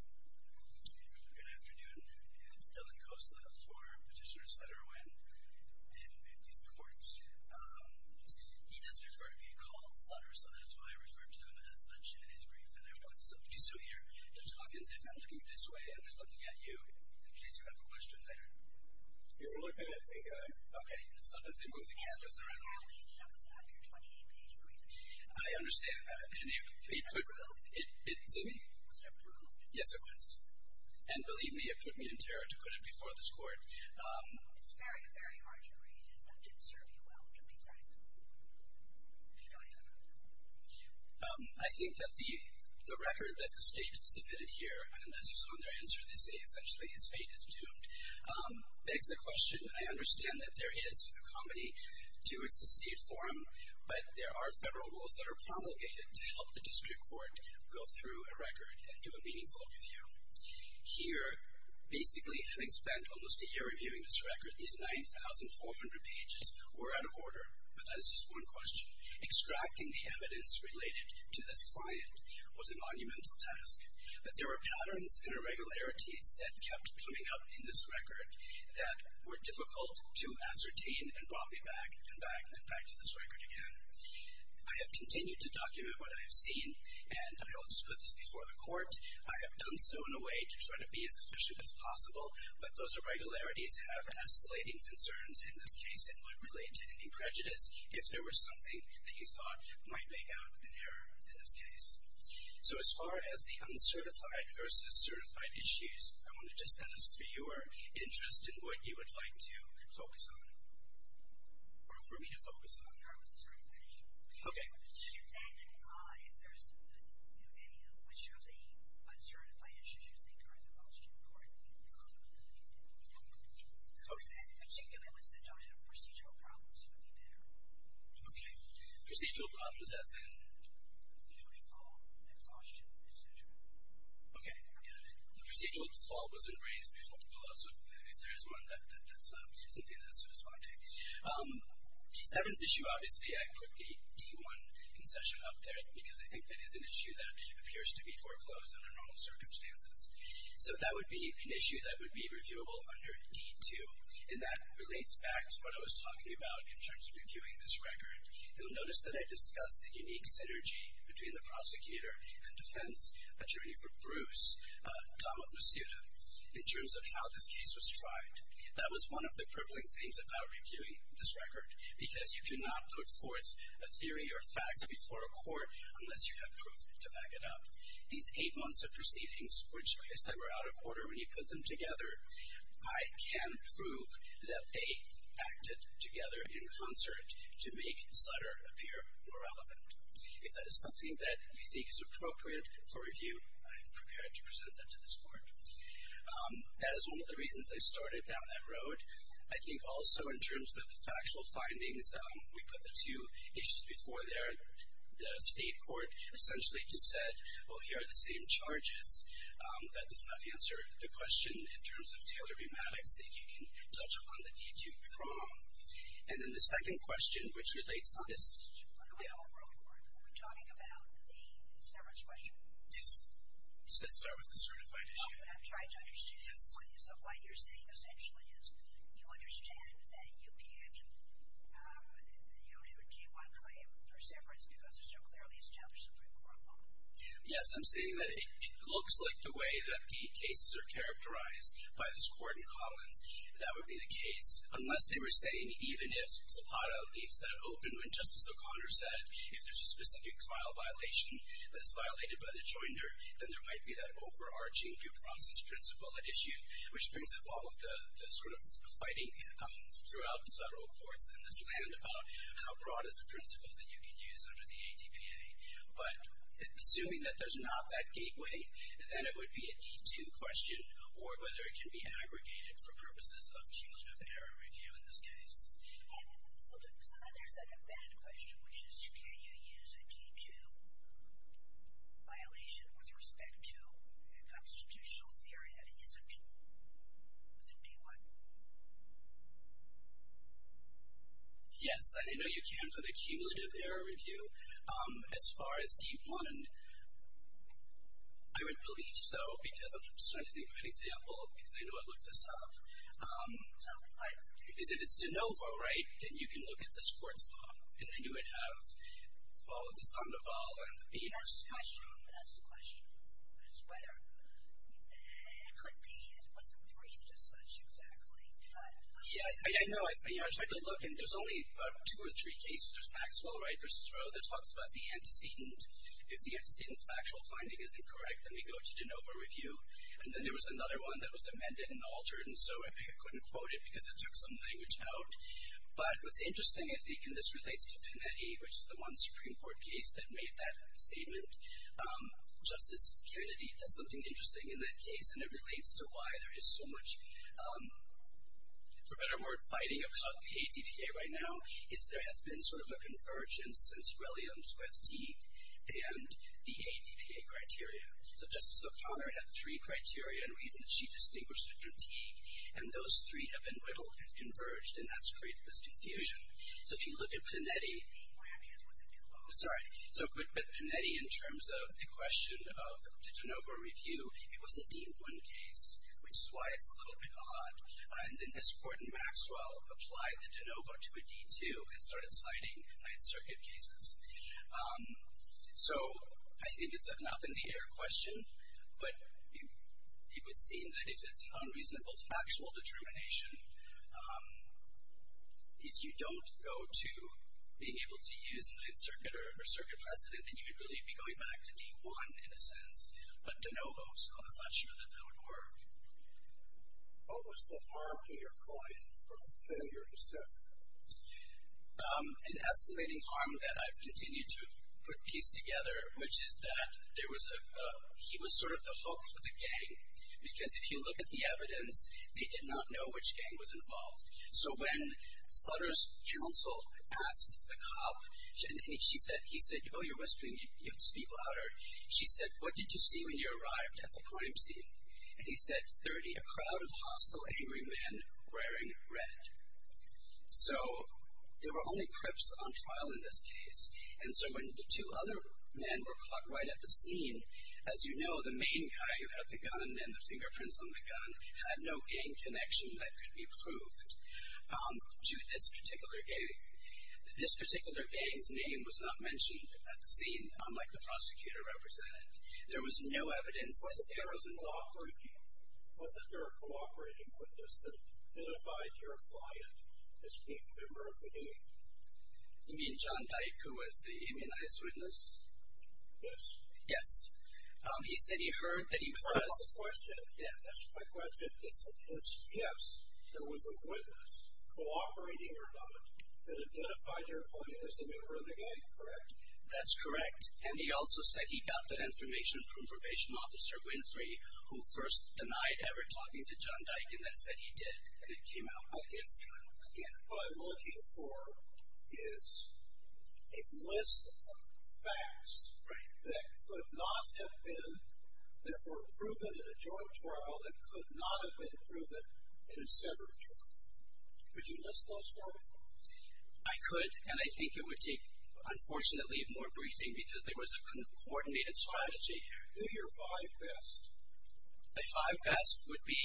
Good afternoon. It's Dylan Khosla for Petitioner Sutter Nguyen. In these courts, he does prefer to be called Sutter, so that is why I refer to him as such in his brief. And I want some of you to hear Judge Hawkins. If I'm looking this way, am I looking at you? In case you have a question later. You're looking at me, guy. Okay, so I'm going to move the cameras around. You have to have your 28-page brief. I understand that. Excuse me? Was it approved? Yes, it was. And believe me, it put me in terror to put it before this court. It's very, very hard to read. It didn't serve you well, to be frank. You know, I don't know. I think that the record that the state submitted here, and as you saw in their answer, they say essentially his fate is doomed, begs the question. I understand that there is a comedy to the state forum, but there are federal rules that are promulgated to help the district court go through a record and do a meaningful review. Here, basically having spent almost a year reviewing this record, these 9,400 pages were out of order. But that is just one question. Extracting the evidence related to this client was a monumental task. But there were patterns and irregularities that kept coming up in this record that were difficult to ascertain and brought me back and back and back to this record again. I have continued to document what I have seen, and I will just put this before the court. I have done so in a way to try to be as efficient as possible, but those irregularities have escalating concerns in this case and would relate to any prejudice if there was something that you thought might make out an error in this case. So as far as the uncertified versus certified issues, I want to just ask for your interest in what you would like to focus on, or for me to focus on. Okay. Okay. Procedural problems as in? Okay. The procedural default wasn't raised before the pullout, so if there is one, that's something that's corresponding. D7's issue, obviously, I put the D1 concession up there, because I think that is an issue that appears to be foreclosed under normal circumstances. So that would be an issue that would be reviewable under D2, and that relates back to what I was talking about in terms of reviewing this record. You'll notice that I discussed the unique synergy between the prosecutor and defense attorney for Bruce, Tom Masuda, in terms of how this case was tried. That was one of the crippling things about reviewing this record, because you cannot put forth a theory or facts before a court unless you have proof to back it up. These eight months of proceedings, which, like I said, were out of order when you put them together, I can prove that they acted together in concert to make Sutter appear more relevant. If that is something that you think is appropriate for review, I am prepared to present that to this court. That is one of the reasons I started down that road. I think also in terms of the factual findings, we put the two issues before there. The state court essentially just said, well, here are the same charges. That does not answer the question in terms of Taylor v. Maddox. If you can touch upon the D2, it's wrong. And then the second question, which relates to this. Yeah. Are we talking about the severance question? Yes. You said start with the certified issue. I'm trying to understand. So what you're saying essentially is you understand that you can't do a D1 claim for severance because it's so clearly established in the Supreme Court law. Yes. I'm saying that it looks like the way that the cases are characterized by this court in Collins, that would be the case. Unless they were saying even if Zapata leaves that open when Justice O'Connor said if there's a specific trial violation that's violated by the jointer, then there might be that overarching due process principle at issue, which brings up all of the sort of fighting throughout the federal courts in this land about how broad is a principle that you can use under the ATPA. But assuming that there's not that gateway, then it would be a D2 question or whether it can be aggregated for purposes of cumulative error review in this case. So there's an embedded question, which is can you use a D2 violation with respect to a constitutional theory that isn't D1? Yes. I know you can for the cumulative error review. As far as D1, I would believe so because I'm just trying to think of an example because I know I looked this up. Because if it's de novo, right, then you can look at the sports law, and then you would have all of the Sandoval and the Peters. That's the question. That's the question. That's where. It could be it wasn't briefed as such exactly. Yeah, I know. I tried to look, and there's only two or three cases. There's Maxwell Wright v. Roe that talks about the antecedent. If the antecedent factual finding is incorrect, then we go to de novo review. And then there was another one that was amended and altered, and so I couldn't quote it because it took some language out. But what's interesting, I think, and this relates to Panetti, which is the one Supreme Court case that made that statement. Justice Kennedy does something interesting in that case, and it relates to why there is so much, for better or worse, fighting about the ADPA right now, is there has been sort of a convergence since Williams with Teague and the ADPA criteria. So Justice O'Connor had three criteria and reasons she distinguished it from Teague, and those three have been whittled and converged, and that's created this confusion. So if you look at Panetti. Sorry. So Panetti, in terms of the question of the de novo review, it was a dean one case, which is why it's a little bit odd. And then Ms. Gordon-Maxwell applied the de novo to a dean two and started citing Ninth Circuit cases. So I think it's an up-in-the-air question, but it would seem that if it's an unreasonable factual determination, if you don't go to being able to use Ninth Circuit or Circuit precedent, then you would really be going back to dean one, in a sense, but de novo. So I'm not sure that that would work. What was the harm to your client from failure to serve? An escalating harm that I've continued to put piece together, which is that he was sort of the hook for the gang, because if you look at the evidence, they did not know which gang was involved. So when Sutter's counsel asked the cop, he said, oh, you're whispering, you have to speak louder. She said, what did you see when you arrived at the crime scene? And he said, 30, a crowd of hostile, angry men wearing red. So there were only crips on trial in this case. And so when the two other men were caught right at the scene, as you know, the main guy who had the gun and the fingerprints on the gun had no gang connection that could be proved to this particular gang. This particular gang's name was not mentioned at the scene, unlike the prosecutor represented. There was no evidence whatsoever. Was there a cooperating witness that identified your client as a member of the gang? You mean John Dyke, who was the immunized witness? Yes. Yes. He said he heard that he was caught. That's my question. Yes, there was a witness, cooperating or not, that identified your client as a member of the gang, correct? That's correct. And he also said he got that information from Probation Officer Winfrey, who first denied ever talking to John Dyke, and then said he did. And it came out against him. What I'm looking for is a list of facts that could not have been, that were proven in a joint trial that could not have been proven in a separate trial. Could you list those for me? I could, and I think it would take, unfortunately, more briefing, because there was a coordinated strategy. I hear five best. My five best would be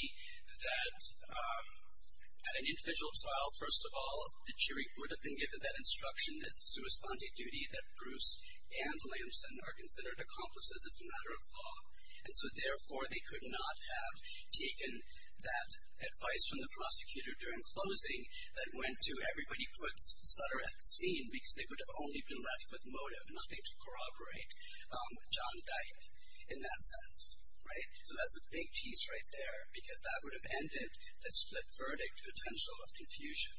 that at an individual trial, first of all, the jury would have been given that instruction as a sui sponte duty that Bruce and Williamson are considered accomplices as a matter of law. And so, therefore, they could not have taken that advice from the prosecutor during closing that went to everybody puts Sutter at the scene, because they could have only been left with motive, nothing to corroborate John Dyke in that sense. Right? So that's a big piece right there, because that would have ended the split verdict potential of confusion.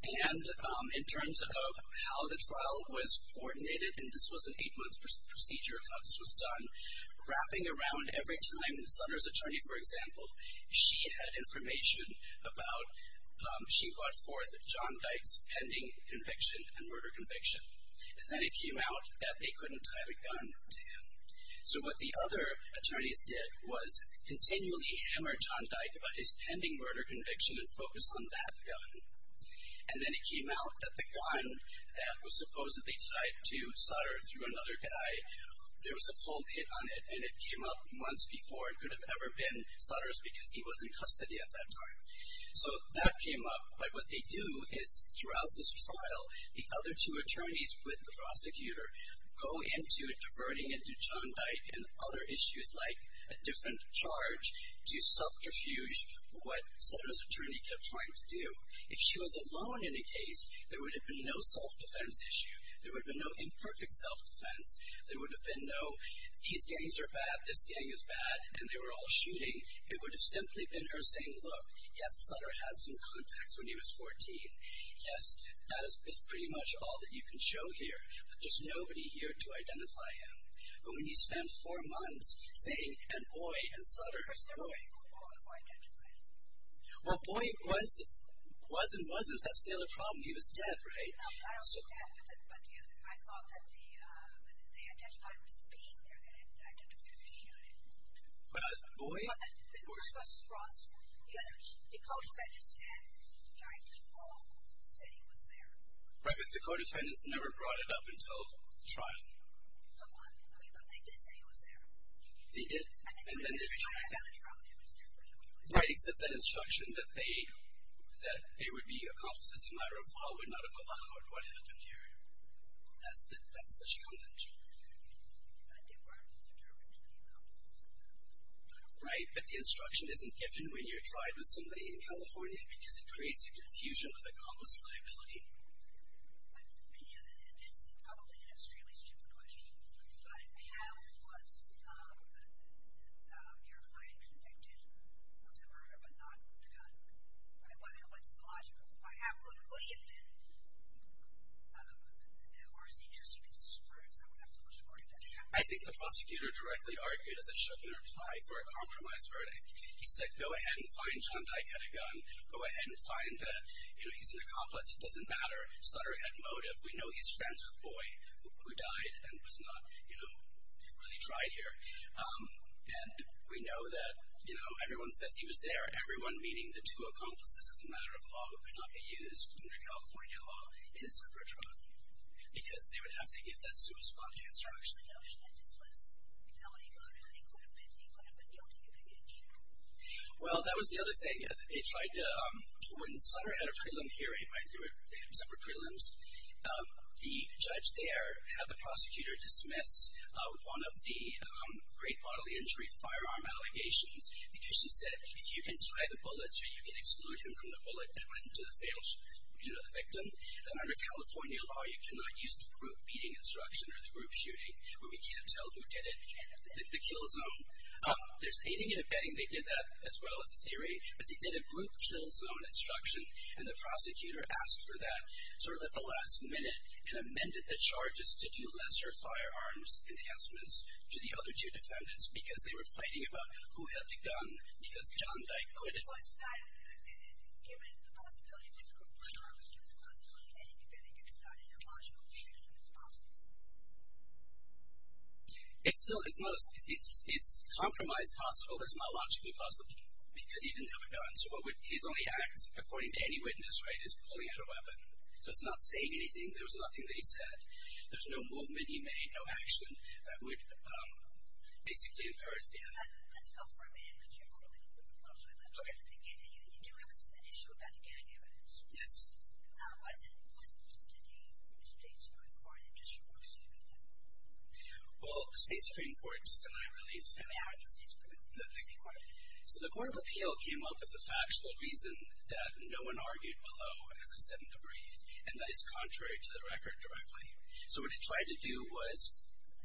And in terms of how the trial was coordinated, and this was an eight-month procedure of how this was done, wrapping around every time Sutter's attorney, for example, she had information about, she brought forth John Dyke's pending conviction and murder conviction. And then it came out that they couldn't tie the gun to him. So what the other attorneys did was continually hammer John Dyke about his pending murder conviction and focus on that gun. And then it came out that the gun that was supposedly tied to Sutter through another guy, there was a cold hit on it, and it came up months before. It could have ever been Sutter's because he was in custody at that time. So that came up. But what they do is throughout this trial, the other two attorneys with the prosecutor go into diverting into John Dyke and other issues like a different charge to subterfuge what Sutter's attorney kept trying to do. If she was alone in a case, there would have been no self-defense issue. There would have been no imperfect self-defense. There would have been no, these gangs are bad, this gang is bad, and they were all shooting. It would have simply been her saying, look, yes, Sutter had some contacts when he was 14. Yes, that is pretty much all that you can show here. But there's nobody here to identify him. But when you spend four months saying, and boy, and Sutter. Boy. Boy. Well, boy was and wasn't. That's the other problem. He was dead, right? I don't know. But I thought that they identified him as being there. They identified him as shooting. But boy was. The court said it's dead. John Dyke just called and said he was there. Right, but the court of defendants never brought it up until the trial. So what? But they did say he was there. They did. And then they retracted. Right, except that instruction that they would be accomplices in a matter of hours. What happened here? That's the challenge. That department is determined to be accomplices in a matter of hours. Right, but the instruction isn't given when you're tried with somebody in California because it creates a diffusion of accomplice liability. It's probably an extremely stupid question. But how was your client convicted of some murder but not shot? What's the logic? If I have one, what do you think? Or is it just a conspiracy? I think the prosecutor directly argued, as it should, in their reply for a compromise verdict. He said, go ahead and find John Dyke had a gun. Go ahead and find that he's an accomplice. It doesn't matter. Sutter had motive. We know he's friends with Boy, who died and was not really tried here. And we know that everyone says he was there, everyone meaning the two accomplices, as a matter of law, who could not be used under California law in a separate trial, because they would have to give that suspect an answer. I actually know she had this was felony murder, and he would have been guilty if he had been shot. Well, that was the other thing. When Sutter had a prelim hearing, they had separate prelims, the judge there had the prosecutor dismiss one of the great bodily injury firearm allegations because she said, if you can tie the bullets or you can exclude him from the bullet that went into the victim, then under California law, you cannot use the group beating instruction or the group shooting, where we can't tell who did it in the kill zone. There's aiding and abetting. They did that as well as the theory. But they did a group kill zone instruction, and the prosecutor asked for that sort of at the last minute and amended the charges to do lesser firearms enhancements to the other two defendants because they were fighting about who had the gun, because John Dyke quit it. Given the possibility of this group killing, given the possibility of any defendant getting shot, is there a logical reason it's possible? It's compromised possible. It's not logically possible because he didn't have a gun. So his only act, according to any witness, right, is pulling out a weapon. So it's not saying anything. There was nothing that he said. There's no movement he made, no action that would basically incur his death. Let's go for a minute. You do have an issue about the gang evidence. Yes. Why didn't the State Supreme Court issue a suit against him? Well, the State Supreme Court just denied release. How did the State Supreme Court do that? So the Court of Appeal came up with a factual reason that no one argued below, as I said in Debris, and that is contrary to the record directly. So what it tried to do was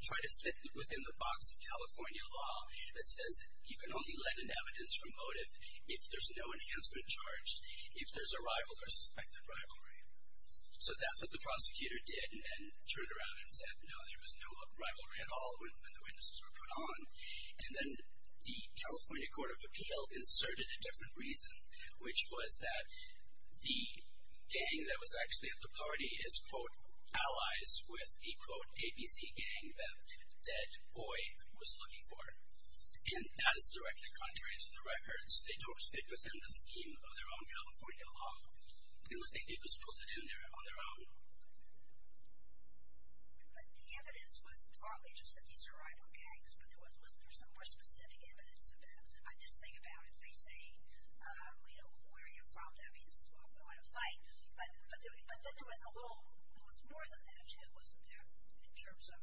try to fit within the box of California law that says you can only let in evidence from motive if there's no enhancement charge, if there's a rival or suspected rivalry. So that's what the prosecutor did and turned around and said, no, there was no rivalry at all when the witnesses were put on. And then the California Court of Appeal inserted a different reason, which was that the gang that was actually at the party is, quote, and that is directly contrary to the records. They don't fit within the scheme of their own California law, unless they get this put in there on their own. But the evidence was partly just that these were rival gangs, but was there some more specific evidence of them? I just think about it. They say, you know, where are you from? That means, well, going to fight. But there was more than that, too, in terms of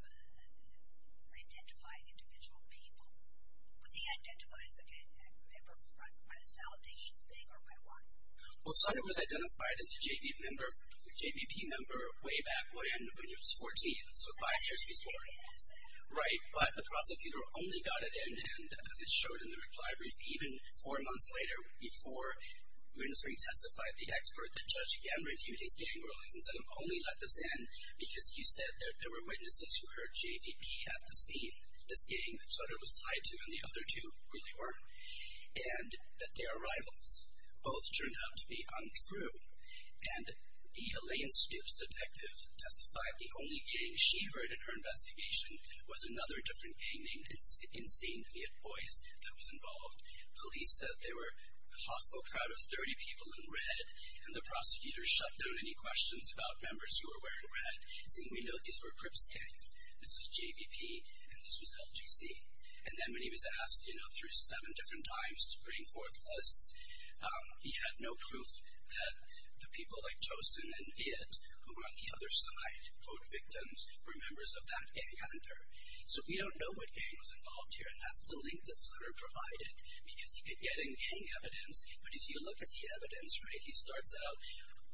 identifying individual people. Was he identified as a gang member by this validation thing, or by what? Well, Sonny was identified as a JVP member way back when he was 14. So five years before. Right, but the prosecutor only got it in, and as it showed in the reply brief, even four months later before Winstring testified, the expert, the judge, again, reviewed his gang rulings and said only let this in because you said that there were witnesses who heard JVP at the scene, this gang that Sutter was tied to, and the other two really weren't, and that they are rivals. Both turned out to be untrue. And the Elaine Stips detective testified the only gang she heard in her investigation was another different gang named Insane Viet Boys that was involved. Police said they were a hostile crowd of 30 people in red, and the prosecutor shut down any questions about members who were wearing red, saying we know these were Crips gangs, this was JVP, and this was LGC. And then when he was asked, you know, through seven different times to bring forth lists, he had no proof that the people like Tosin and Viet, who were on the other side, quote, victims, were members of that gang, So we don't know what gang was involved here, and that's the link that Sutter provided, because he could get in gang evidence, but if you look at the evidence, right, he starts out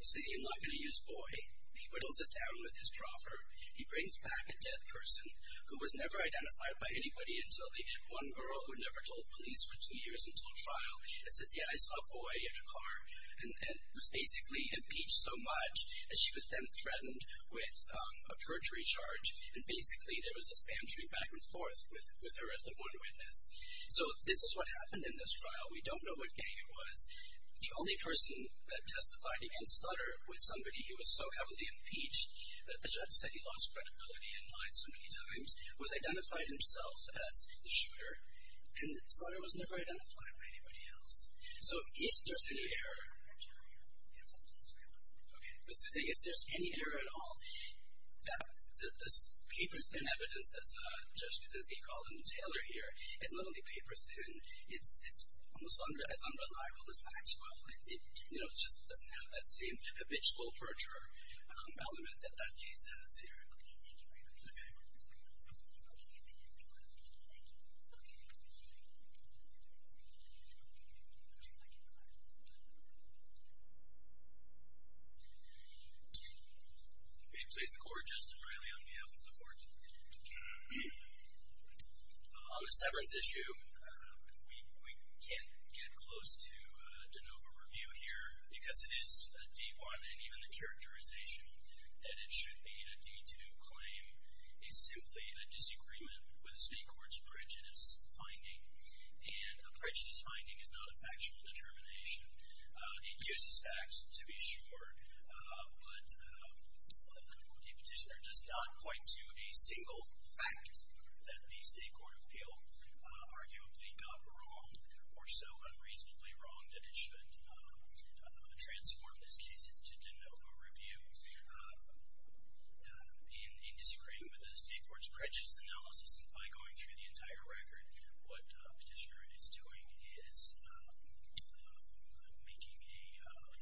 saying you're not going to use boy. He whittles it down with his proffer. He brings back a dead person who was never identified by anybody until they did one girl who never told police for two years until trial, and says, yeah, I saw a boy in a car, and was basically impeached so much that she was then threatened with a perjury charge, and basically there was this bantering back and forth with her as the one witness. So this is what happened in this trial. We don't know what gang it was. The only person that testified against Sutter was somebody who was so heavily impeached that the judge said he lost credibility and lied so many times, was identified himself as the shooter, and Sutter was never identified by anybody else. So if there's any error, yes, please, go ahead. Okay. I was just saying if there's any error at all, that this paper-thin evidence that Judge D'Souza called in Taylor here is not only paper-thin, it's almost as unreliable as factual. It just doesn't have that same habitual perjurer element that that case has here. Okay. Thank you very much. Okay. Okay. Thank you. Okay. Thank you. Thank you. Thank you. Would you like to ask a question? Please. Okay. Please, the court, Justice Reilly, on behalf of the court. On the severance issue, we can't get close to a de novo review here because it is a D-1, and even the characterization that it should be a D-2 claim is simply a disagreement with the state court's prejudice finding, and a prejudice finding is not a factual determination. It uses facts, to be sure, but the petitioner does not point to a single fact that the state court appealed, arguably not wrong or so unreasonably wrong that it should transform this case into de novo review in disagreement with the state court's prejudice analysis, and by going through the entire record, what the petitioner is doing is making a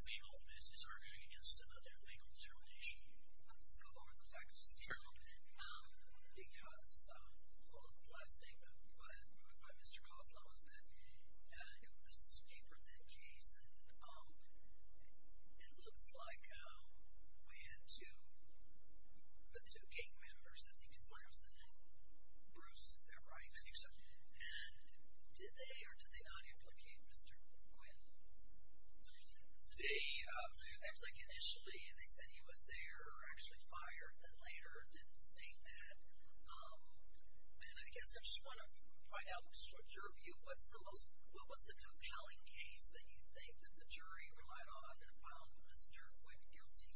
legal, is arguing against another legal determination. Let's go over the facts just a little bit. Sure. Because the last statement by Mr. Kozloff was that this is a paper-thin case, and it looks like we had the two gang members, I think it's Lamson and Bruce. Is that right? I think so. And did they or did they not implicate Mr. Quinn? They, I think initially they said he was there, or actually fired, and then later didn't state that. And I guess I just want to find out your view. What's the most, what was the compelling case that you think that the jury relied on and found Mr. Quinn guilty?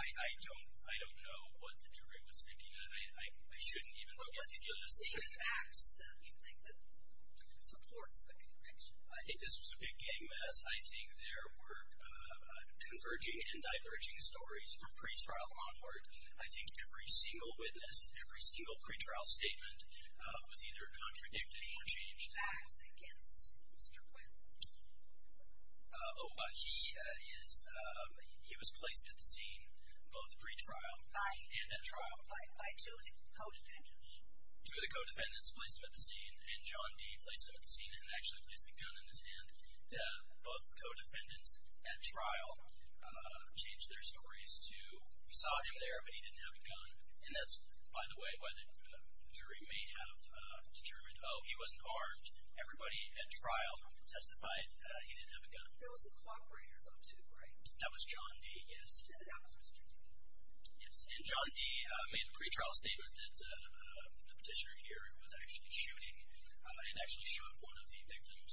I don't know what the jury was thinking. I shouldn't even look at the evidence. What are the facts that you think supports the conviction? I think this was a big gang mess. I think there were converging and diverging stories from pretrial onward. I think every single witness, every single pretrial statement was either contradicted or changed. What are the facts against Mr. Quinn? He was placed at the scene, both pretrial and at trial. By two co-defendants? Two of the co-defendants placed him at the scene, and John Dee placed him at the scene and actually placed a gun in his hand. Both co-defendants at trial changed their stories to we saw him there, but he didn't have a gun. And that's, by the way, why the jury may have determined, oh, he wasn't armed. Everybody at trial testified he didn't have a gun. There was a cooperator, though, too, right? That was John Dee, yes. And that was Mr. Dee. Yes, and John Dee made a pretrial statement that the petitioner here was actually shooting and actually shot one of the victims,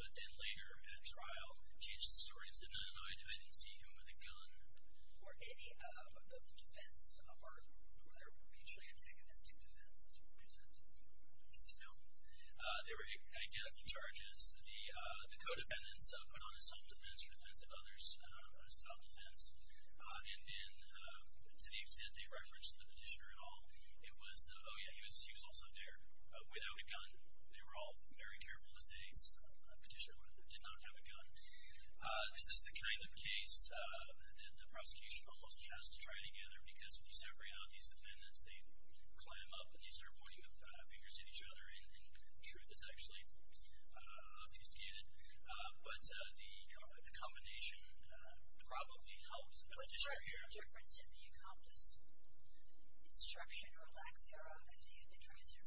but then later at trial changed the story and said, no, no, no, I didn't see him with a gun. Were any of the defenses armed? Were there mutually antagonistic defenses present? No. There were identical charges. The co-defendants put on a self-defense for defense of others, a stop defense. And then to the extent they referenced the petitioner at all, it was, oh, yeah, he was also there without a gun. This is the kind of case that the prosecution almost has to try together, because if you separate out these defendants, they clam up, and they start pointing fingers at each other, and truth is actually obfuscated. But the combination probably helps the legislature here. Was there a difference in the accomplice instruction or lack thereof in the treason?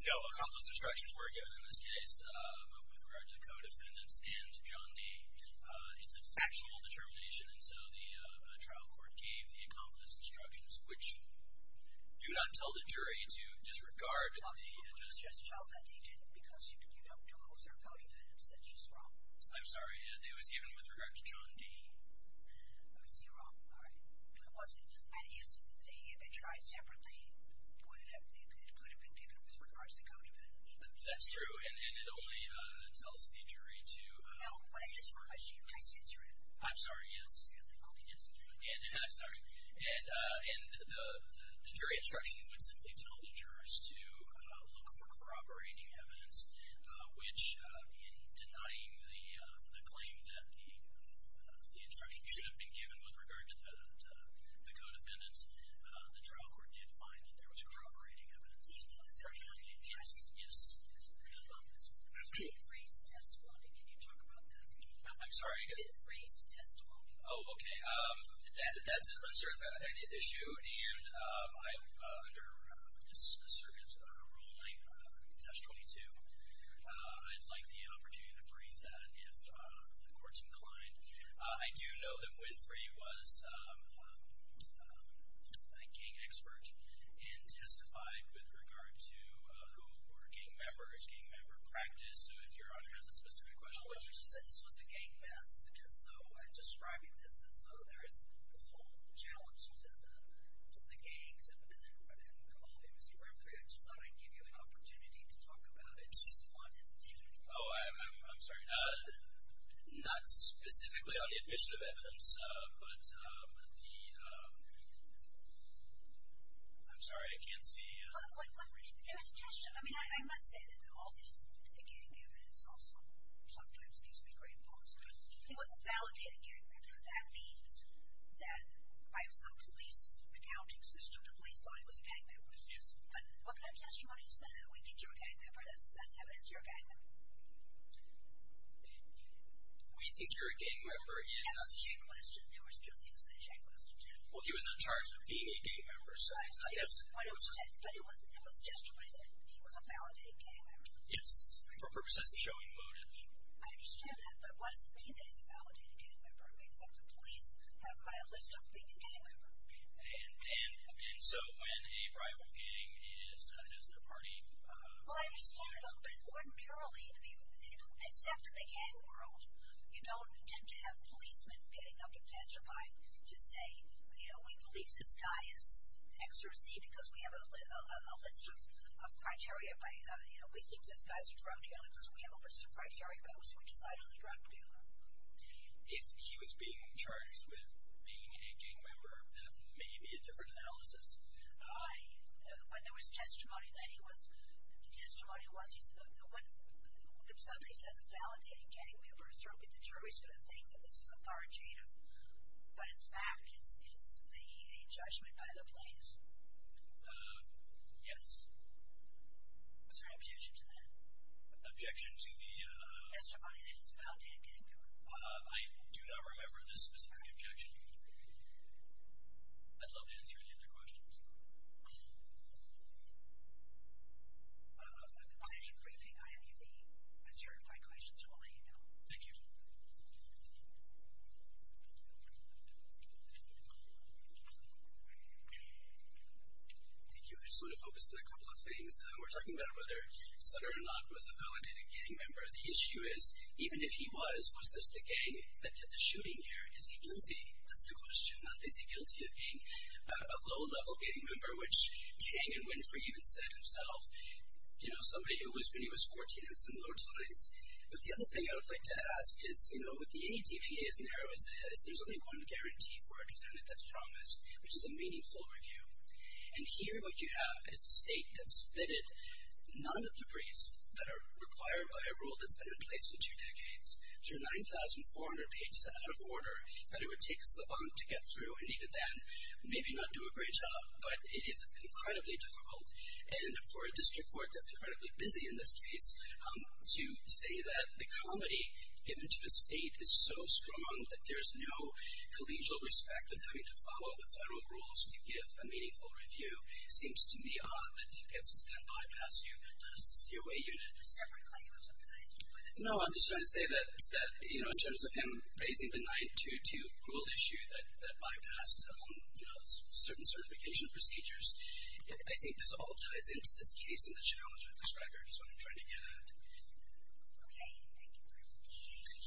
No, accomplice instructions were given in this case. But with regard to the co-defendants and John D., it's a factual determination, and so the trial court gave the accomplice instructions, which do not tell the jury to disregard the justice. Just tell that they didn't because you don't trust their co-defendants. That's just wrong. I'm sorry. It was given with regard to John D. I see you're wrong. All right. It wasn't just that he had been tried separately. It could have been given with regard to the co-defendants. That's true. And it only tells the jury to ask questions. No, when I ask a question, you can't answer it. I'm sorry. Yes. And I'm sorry. And the jury instruction would simply tell the jurors to look for corroborating evidence, which in denying the claim that the instruction should have been given with regard to the co-defendants, the trial court did find that there was corroborating evidence. Yes, yes. I'm sorry. Oh, okay. That's an issue. And under this circuit ruling, test 22, I'd like the opportunity to brief that if the court's inclined. I do know that Winfrey was a gang expert and testified with regard to who were gang members, gang member practice. So if Your Honor has a specific question. Well, you just said this was a gang mess. And so I'm describing this. And so there is this whole challenge to the gangs. And obviously, Mr. Winfrey, I just thought I'd give you an opportunity to talk about it. Oh, I'm sorry. Not specifically on the admission of evidence, but the – I'm sorry, I can't see. There was a question. I mean, I must say that all this gang evidence also sometimes gives me great thoughts. But it wasn't validating gang members. That means that by some police accounting system, the police thought he was a gang member. Yes. What kind of testimony is that? We think you're a gang member. That's evidence you're a gang member. We think you're a gang member. That was a check question. There were still things in the check question. Well, he was not charged with being a gang member. Yes, I understand. But it was a testimony that he was a validated gang member. Yes, for purposes of showing motive. I understand that. But what does it mean that he's a validated gang member? Does the police have a list of being a gang member? And so when a rival gang is – has their party – Well, I understand, but ordinarily, I mean, except in the gang world, you don't tend to have policemen getting up and testifying to say, you know, we believe this guy is X or Z because we have a list of criteria by, you know, we think this guy's a drug dealer because we have a list of criteria by which we decide he's a drug dealer. If he was being charged with being a gang member, that may be a different analysis. But there was testimony that he was – the testimony was he's a – if somebody says a validated gang member, certainly the jury's going to think that this is authoritative, but in fact it's a judgment by the police. Yes. Was there an objection to that? Objection to the – I do not remember the specific objection. I'd love to answer any other questions. I'll continue briefing. I have the uncertified questions. We'll let you know. Thank you. Thank you. I just want to focus on a couple of things. We're talking about whether Sutter or not was a validated gang member. The issue is even if he was, was this the gang that did the shooting here? Is he guilty? That's the question. Is he guilty of being a low-level gang member, which Kang and Winfrey even said himself, you know, somebody who was when he was 14 at some low times. But the other thing I would like to ask is, you know, with the ADPA as narrow as it is, there's only one guarantee for a defendant that's promised, which is a meaningful review. And here what you have is a state that's submitted none of the briefs that are required by a rule that's been in place for two decades. There are 9,400 pages out of order that it would take a savant to get through, and even then, maybe not do a great job. But it is incredibly difficult. And for a district court that's incredibly busy in this case, to say that the comedy given to a state is so strong that there's no collegial respect of having to follow the federal rules to give a meaningful review seems to me odd that he gets to then bypass you as the COA unit. Is there a separate claim of some kind? No, I'm just trying to say that, you know, in terms of him raising the 922 rule issue that bypassed, you know, certain certification procedures, I think this all ties into this case and the challenge with this record is what I'm trying to get at. Okay. Thank you very much. Thank you. And thank both of you very much. This has been a great deal of care, and I look forward to hearing from you in the cases that you have to review.